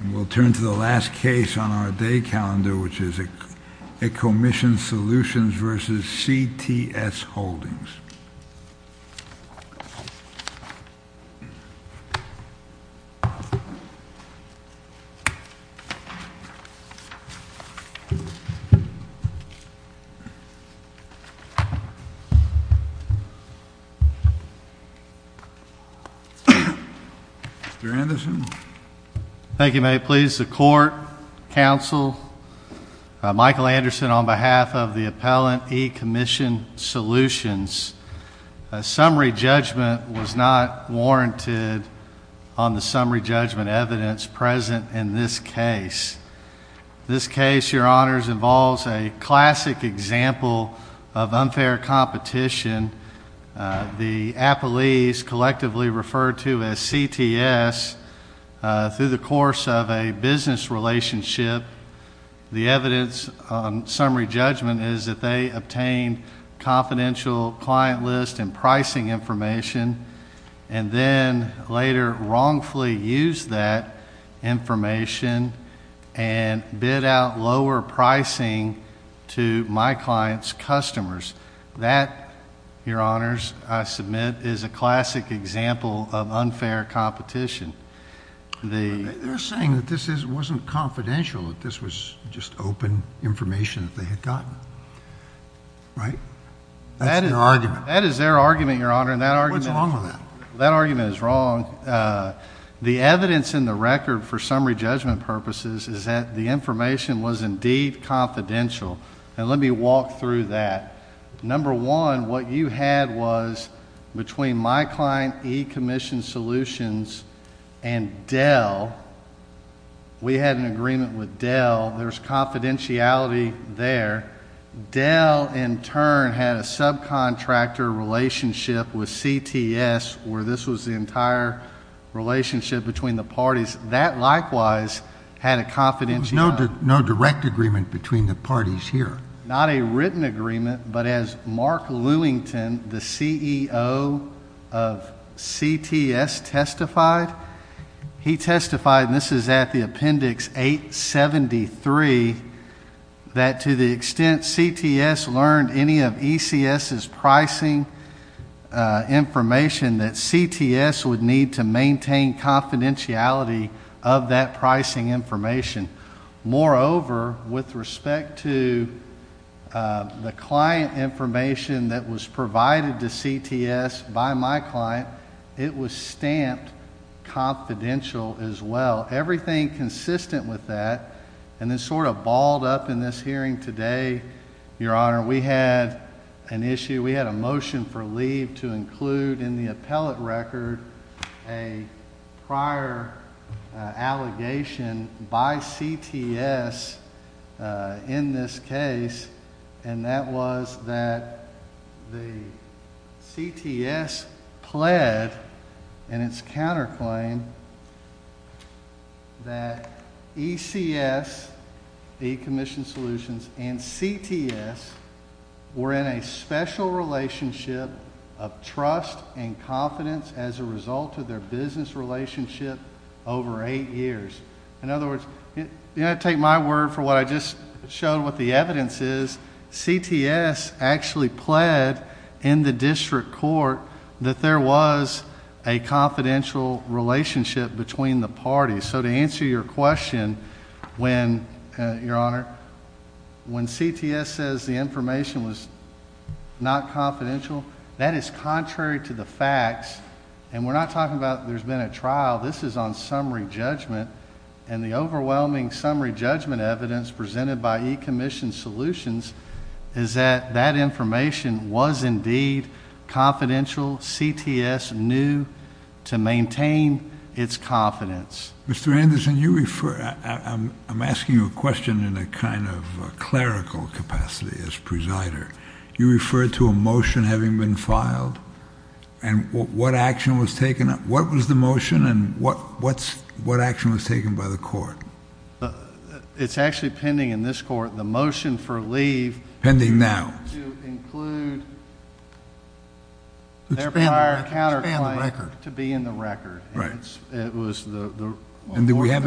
And we'll turn to the last case on our day calendar, which is Ecommission Solutions v. CTS Holdings. Mr. Anderson? Thank you. May it please the Court, Counsel, Michael Anderson, on behalf of the appellant, Ecommission Solutions. Summary judgment was not warranted on the summary judgment evidence present in this case. This case, Your Honors, involves a classic example of unfair competition. The appellees collectively referred to as CTS through the course of a business relationship. The evidence on summary judgment is that they obtained confidential client list and pricing information and then later wrongfully used that information and bid out lower pricing to my client's customers. That, Your Honors, I submit, is a classic example of unfair competition. They're saying that this wasn't confidential, that this was just open information that they had gotten, right? That is their argument, Your Honor. What's wrong with that? That argument is wrong. The evidence in the record for summary judgment purposes is that the information was indeed confidential. And let me walk through that. Number one, what you had was between my client, Ecommission Solutions, and Dell. We had an agreement with Dell. There's confidentiality there. Dell, in turn, had a subcontractor relationship with CTS where this was the entire relationship between the parties. That, likewise, had a confidentiality. There was no direct agreement between the parties here. Not a written agreement, but as Mark Lewington, the CEO of CTS, testified, he testified, and this is at the appendix 873, that to the extent CTS learned any of ECS's pricing information, that CTS would need to maintain confidentiality of that pricing information. Moreover, with respect to the client information that was provided to CTS by my client, it was stamped confidential as well. Everything consistent with that, and then sort of balled up in this hearing today, Your Honor, we had an issue, we had a motion for leave to include in the appellate record a prior allegation by CTS in this case, and that was that the CTS pled in its counterclaim that ECS, Ecommission Solutions, and CTS were in a special relationship of trust and confidence as a result of their business relationship over eight years. In other words, take my word for what I just showed, what the evidence is, CTS actually pled in the district court that there was a confidential relationship between the parties. So to answer your question, when, Your Honor, when CTS says the information was not confidential, that is contrary to the facts, and we're not talking about there's been a trial. This is on summary judgment, and the overwhelming summary judgment evidence presented by Ecommission Solutions is that that information was indeed confidential. CTS knew to maintain its confidence. Mr. Anderson, you refer, I'm asking you a question in a kind of clerical capacity as presider. You refer to a motion having been filed, and what action was taken? What was the motion, and what action was taken by the court? It's actually pending in this court the motion for leave to include their prior counterclaim to be in the record. And do we have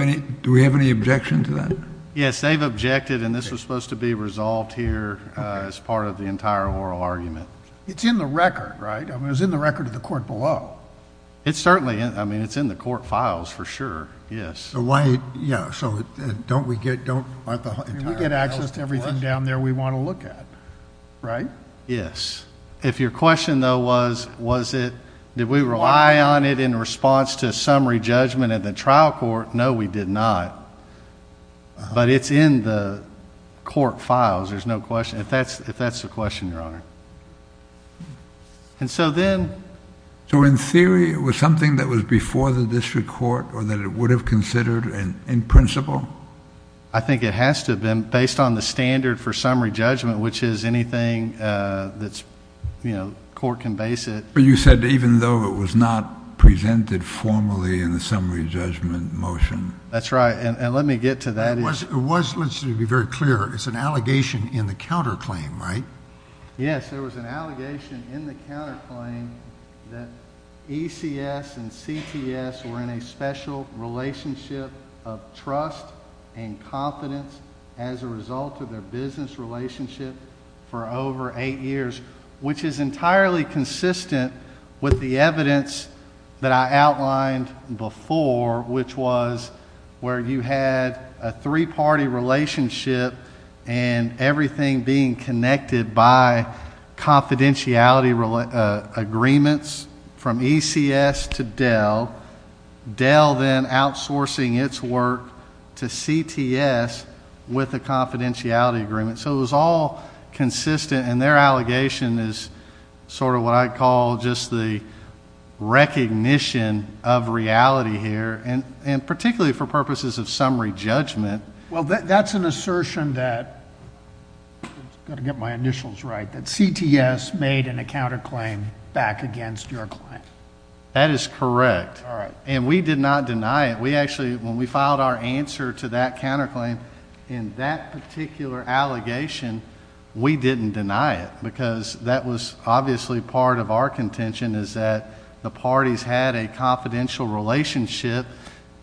any objection to that? Yes, they've objected, and this was supposed to be resolved here as part of the entire oral argument. It's in the record, right? I mean, it was in the record of the court below. It certainly is. I mean, it's in the court files for sure, yes. So why, yeah, so don't we get, don't, aren't the entire files... We get access to everything down there we want to look at, right? Yes. If your question though was, was it, did we rely on it in response to summary judgment at the trial court, no, we did not. But it's in the court files, there's no question, if that's the question, Your Honor. And so then... So in theory, it was something that was before the district court or that it would have considered in principle? I think it has to have been based on the standard for summary judgment, which is anything that's, you know, court can base it... But you said even though it was not presented formally in the summary judgment motion. That's right, and let me get to that. It was, let's be very clear, it's an allegation in the counterclaim, right? Yes, there was an allegation in the counterclaim that ECS and CTS were in a special relationship of trust and confidence as a result of their business relationship for over eight years, which is entirely consistent with the evidence that I outlined before, which was where you had a three-party relationship and everything being connected by confidentiality agreements from ECS to Dell. Dell then outsourcing its work to CTS with a confidentiality agreement. So it was all consistent, and their allegation is sort of what I call just the recognition of reality here, and particularly for purposes of summary judgment. Well, that's an assertion that... I've got to get my initials right... that CTS made in a counterclaim back against your client. That is correct, and we did not deny it. We actually, when we filed our answer to that counterclaim in that particular allegation, we didn't deny it because that was obviously part of our contention is that the parties had a confidential relationship.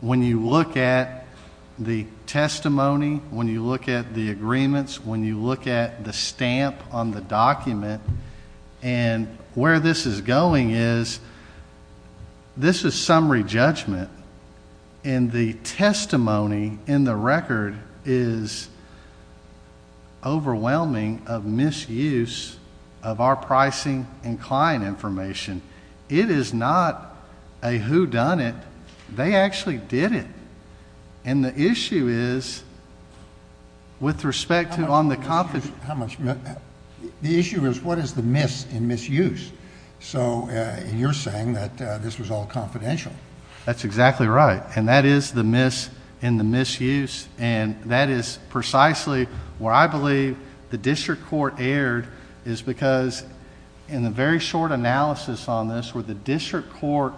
When you look at the testimony, when you look at the agreements, when you look at the stamp on the document, and where this is going is, this is summary judgment, and the testimony in the record is overwhelming of misuse of our pricing and client information. It is not a whodunit. They actually did it, and the issue is with respect to on the... The issue is what is the miss in misuse? So you're saying that this was all confidential. That's exactly right, and that is the miss in the misuse, and that is precisely where I believe the district court erred, is because in the very short analysis on this, where the district court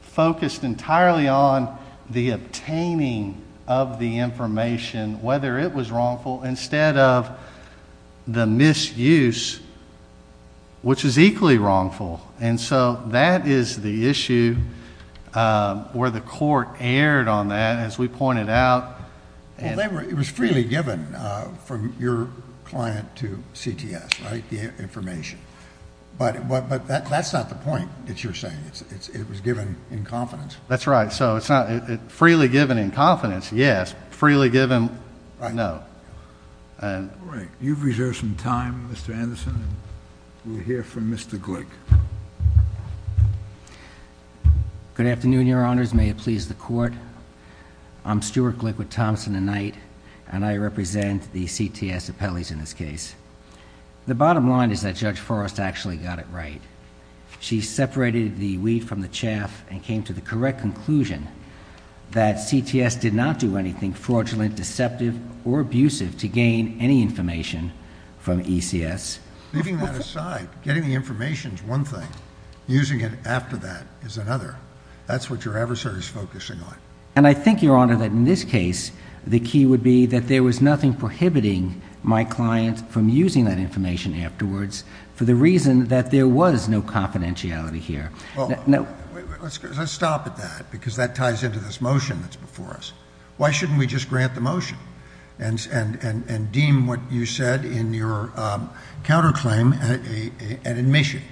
focused entirely on the obtaining of the information, whether it was wrongful, instead of the misuse, which is equally wrongful. So that is the issue where the court erred on that, as we pointed out. Well, it was freely given from your client to CTS, right, the information? But that's not the point that you're saying. It was given in confidence. That's right. So it's not freely given in confidence. Yes. Freely given... Right. No. All right. You've reserved some time, Mr. Anderson, and we'll hear from Mr. Glick. Good afternoon, Your Honors. May it please the Court. I'm Stuart Glick with Thompson & Knight, and I represent the CTS appellees in this case. The bottom line is that Judge Forrest actually got it right. She separated the weed from the chaff and came to the correct conclusion that CTS did not do anything fraudulent, deceptive, or abusive to gain any information from ECS. Leaving that aside, getting the information is one thing. Using it after that is another. That's what your adversary is focusing on. And I think, Your Honor, that in this case, the key would be that there was nothing prohibiting my client from using that information afterwards for the reason that there was no confidentiality here. Well, let's stop at that because that ties into this motion that's before us. Why shouldn't we just grant the motion and deem what you said in your counterclaim an admission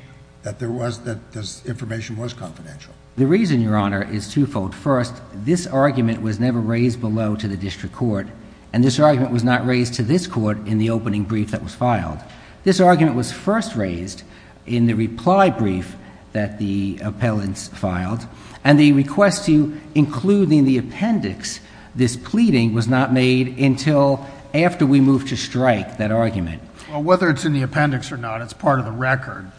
that this information was confidential? The reason, Your Honor, is twofold. First, this argument was never raised below to the district court, and this argument was not raised to this court in the opening brief that was filed. This argument was first raised in the reply brief that the appellants filed, and the request to include in the appendix this pleading was not made until after we moved to strike that argument. Well, whether it's in the appendix or not, it's part of the record.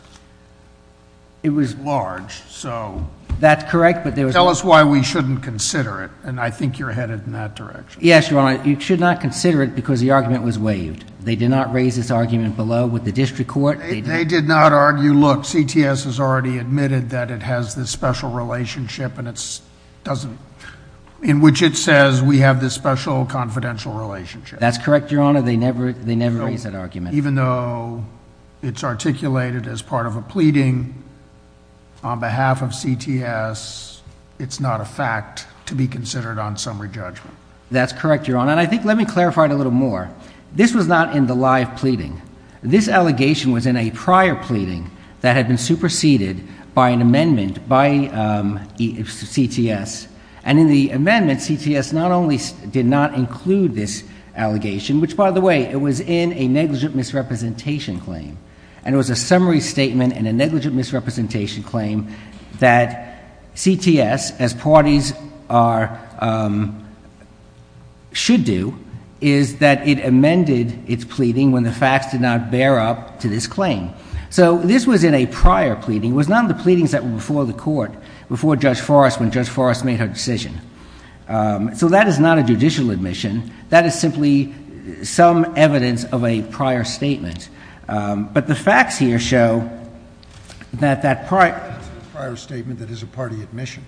It was large, so... That's correct, but there was... Tell us why we shouldn't consider it, and I think you're headed in that direction. Yes, Your Honor, you should not consider it because the argument was waived. They did not raise this argument below with the district court. They did not argue, look, CTS has already admitted that it has this special relationship and it doesn't... in which it says we have this special confidential relationship. That's correct, Your Honor. They never raised that argument. Even though it's articulated as part of a pleading on behalf of CTS, it's not a fact to be considered on summary judgment. That's correct, Your Honor, and I think, let me clarify it a little more. This was not in the live pleading. This allegation was in a prior pleading that had been superseded by an amendment by CTS, and in the amendment, CTS not only did not include this allegation, which, by the way, it was in a negligent misrepresentation claim, and it was a summary statement in a negligent misrepresentation claim that CTS, as parties should do, is that it amended its pleading when the facts did not bear up to this claim. So this was in a prior pleading. It was not in the pleadings before the court, before Judge Forrest, when Judge Forrest made her decision. So that is not a judicial admission. That is simply some evidence of a prior statement. But the facts here show that that prior statement is a party admission.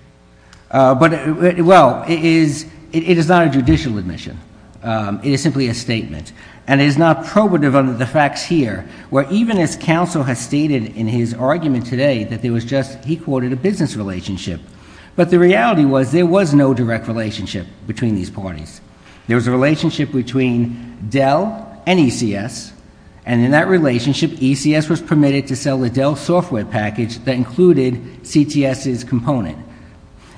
Well, it is not a judicial admission. It is simply a statement. And it is not probative under the facts here, where even as counsel has stated in his argument today that there was just, he quoted, a business relationship. But the reality was there was no direct relationship between these parties. There was a relationship between Dell and ECS. And in that relationship, ECS was permitted to sell the Dell software package that included CTS's component.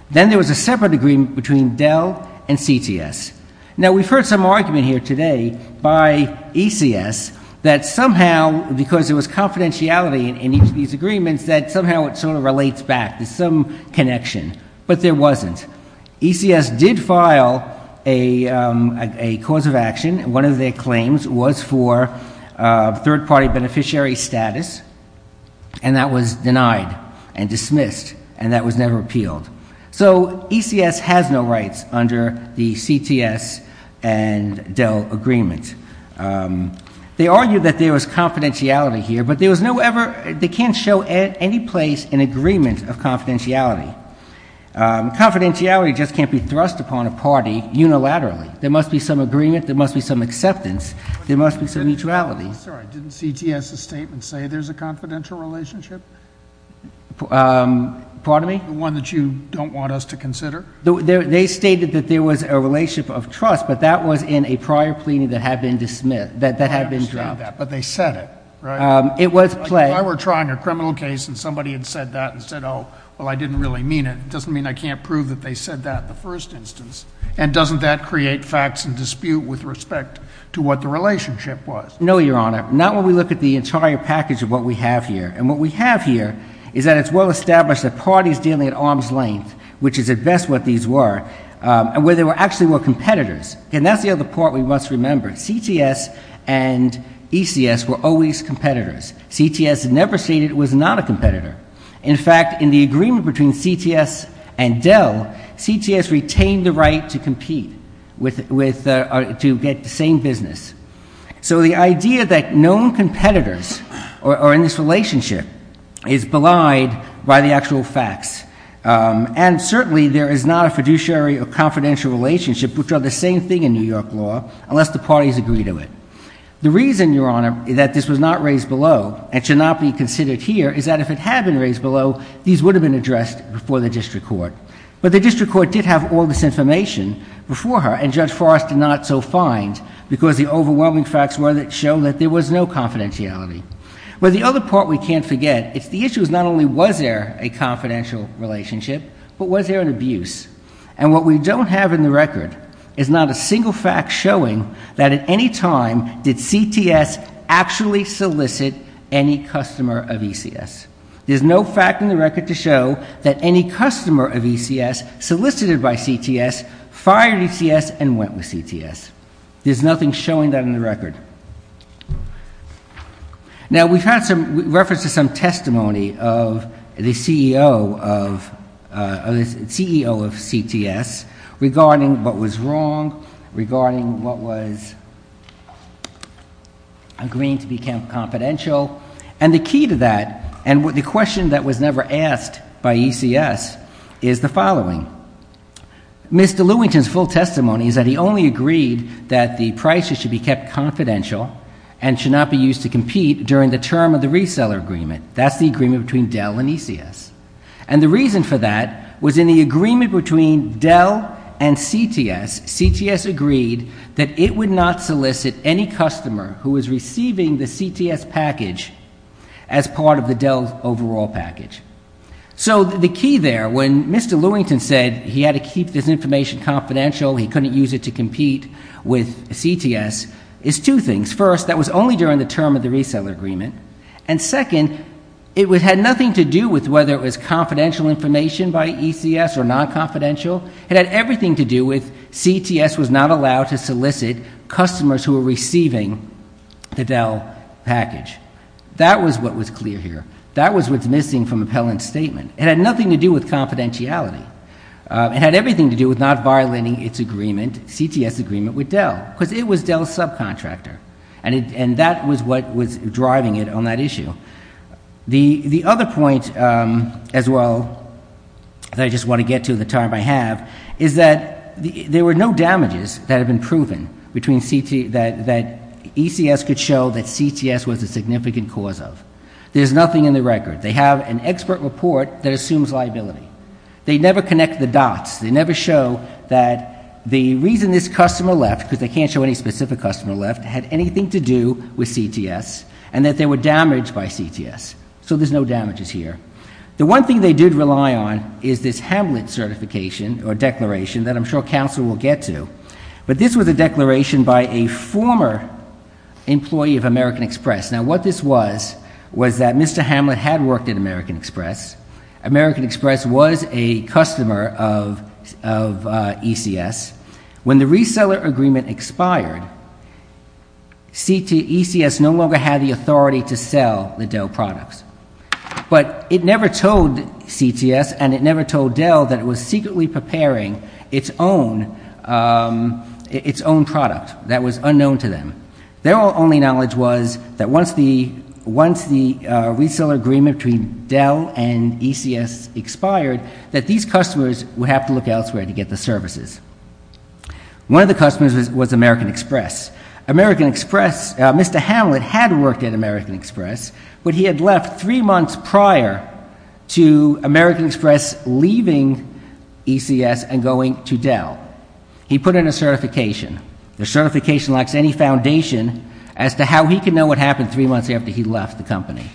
Then there was a separate agreement between Dell and CTS. Now, we've heard some argument here today by ECS that somehow, because there was confidentiality in each of these agreements, that somehow it sort of relates back to some connection. But there wasn't. ECS did file a cause of action. One of their claims was for third-party beneficiary status. And that was denied and dismissed. And that was never appealed. So ECS has no rights under the CTS and Dell agreement. They argued that there was confidentiality here, but there was no ever, they can't show any place in agreement of confidentiality. Confidentiality just can't be thrust upon a party unilaterally. There must be some agreement. There must be some acceptance. There must be some neutrality. I'm sorry. Didn't CTS's statement say there's a confidential relationship? Pardon me? The one that you don't want us to consider? They stated that there was a relationship of trust, but that was in a prior pleading that had been dismissed, that had been dropped. But they said it, right? It was played. If I were trying a criminal case and somebody had said that and said, oh, well, I didn't really mean it, it doesn't mean I can't prove that they said that in the first instance. And doesn't that create facts and dispute with respect to what the relationship was? No, Your Honor. Not when we look at the entire package of what we have here. And what we have here is that it's well established that parties dealing at arm's length, which is at best what these were, and where they actually were competitors. And that's the other part we must remember. CTS and ECS were always competitors. CTS never stated it was not a competitor. In fact, in the agreement between CTS and Dell, CTS retained the right to compete, to get the same business. So the idea that known competitors are in this relationship is belied by the actual facts. And certainly there is not a fiduciary or confidential relationship, which are the same thing in New York law, unless the parties agree to it. The reason, Your Honor, that this was not raised below, and should not be considered here, is that if it had been raised below, these would have been addressed before the district court. But the district court did have all this information before her, and Judge Forrest did not so find, because the overwhelming facts were that it showed that there was no confidentiality. But the other part we can't forget is the issue is not only was there a confidential relationship, but was there an abuse? And what we don't have in the record is not a single fact showing that at any time did CTS actually solicit any customer of ECS. There's no fact in the record to show that any customer of ECS solicited by CTS, fired ECS, and went with CTS. There's nothing showing that in the record. Now, we found some reference to some testimony of the CEO of CTS regarding what was wrong, regarding what was agreeing to be confidential. And the key to that, and the question that was never asked by ECS, is the following. Mr. Lewington's full testimony is that he only agreed that the prices should be kept confidential and should not be used to compete during the term of the reseller agreement. That's the agreement between Dell and ECS. And the reason for that was in the agreement between Dell and CTS, CTS agreed that it would not solicit any customer who was receiving the CTS package as part of the Dell overall package. So the key there, when Mr. Lewington said he had to keep this information confidential, he couldn't use it to compete with CTS, is two things. First, that was only during the term of the reseller agreement. And second, it had nothing to do with whether it was confidential information by ECS or non-confidential. It had everything to do with CTS was not allowed to solicit customers who were receiving the Dell package. That was what was clear here. That was what's missing from Appellant's statement. It had nothing to do with confidentiality. It had everything to do with not violating its agreement, CTS' agreement with Dell, because it was Dell's subcontractor. And that was what was driving it on that issue. The other point, as well, that I just want to get to in the time I have, is that there were no damages that had been proven that ECS could show that CTS was a significant cause of. There's nothing in the record. They have an expert report that assumes liability. They never connect the dots. They never show that the reason this customer left, because they can't show any specific customer left, had anything to do with CTS and that they were damaged by CTS. So there's no damages here. The one thing they did rely on is this Hamlet certification or declaration that I'm sure counsel will get to. But this was a declaration by a former employee of American Express. Now, what this was was that Mr. Hamlet had worked at American Express. American Express was a customer of ECS. When the reseller agreement expired, ECS no longer had the authority to sell the Dell products. But it never told CTS and it never told Dell that it was secretly preparing its own product that was unknown to them. Their only knowledge was that once the reseller agreement between Dell and ECS expired, that these customers would have to look elsewhere to get the services. One of the customers was American Express. American Express, Mr. Hamlet had worked at American Express, but he had left three months prior to American Express leaving ECS and going to Dell. He put in a certification. The certification lacks any foundation as to how he could know what happened three months after he left the company.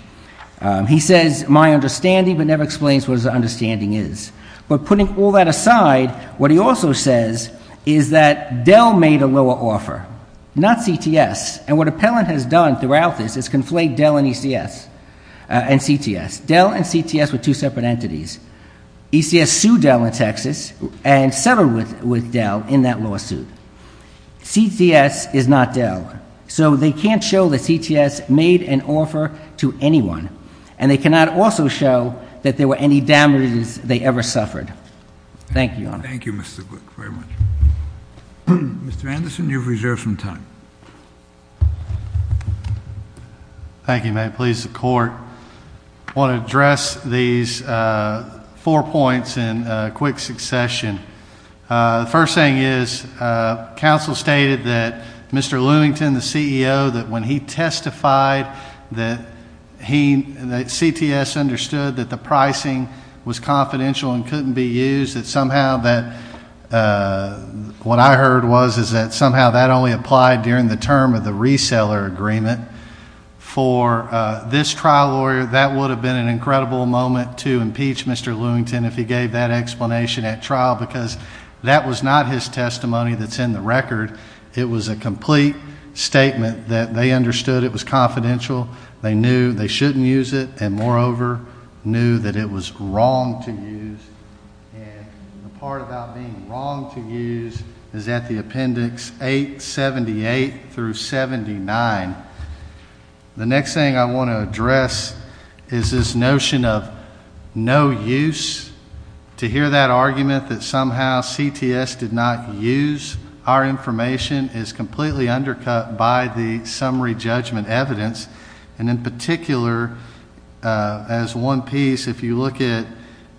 He says my understanding, but never explains what his understanding is. But putting all that aside, what he also says is that Dell made a lower offer, not CTS. And what appellant has done throughout this is conflate Dell and ECS and CTS. Dell and CTS were two separate entities. ECS sued Dell in Texas and severed with Dell in that lawsuit. CTS is not Dell. So they can't show that CTS made an offer to anyone. And they cannot also show that there were any damages they ever suffered. Thank you, Your Honor. Thank you, Mr. Glick, very much. Mr. Anderson, you have reserved some time. Thank you, Matt. Please, the Court. I want to address these four points in quick succession. The first thing is, counsel stated that Mr. Lewington, the CEO, that when he testified that CTS understood that the pricing was confidential and couldn't be used, that somehow what I heard was that somehow that only applied during the term of the reseller agreement. For this trial lawyer, that would have been an incredible moment to impeach Mr. Lewington if he gave that explanation at trial because that was not his testimony that's in the record. It was a complete statement that they understood it was confidential. They knew they shouldn't use it and, moreover, knew that it was wrong to use. And the part about being wrong to use is at the appendix 878 through 79. The next thing I want to address is this notion of no use. To hear that argument that somehow CTS did not use our information is completely undercut by the summary judgment evidence. And in particular, as one piece, if you look at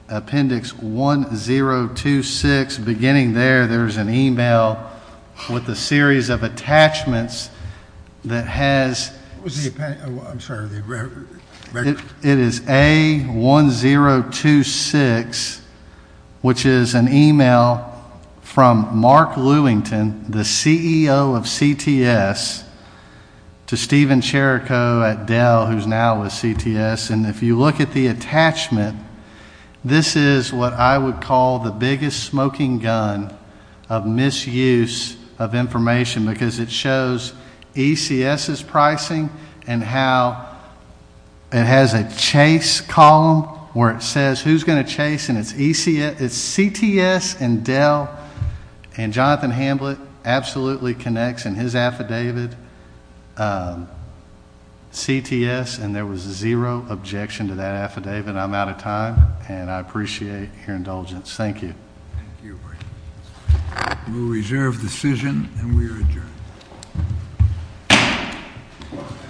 appendix 1026, beginning there, there's an e-mail with a series of attachments that has, it is A1026, which is an e-mail from Mark Lewington, the CEO of CTS, to Stephen Cherico at Dell, who's now with CTS. And if you look at the attachment, this is what I would call the biggest smoking gun of misuse of information because it shows ECS's pricing and how it has a chase column where it says who's going to chase, and it's CTS and Dell, and Jonathan Hamblett absolutely connects in his affidavit, CTS, and there was zero objection to that affidavit. I'm out of time, and I appreciate your indulgence. Thank you. Thank you. We'll reserve the decision, and we are adjourned.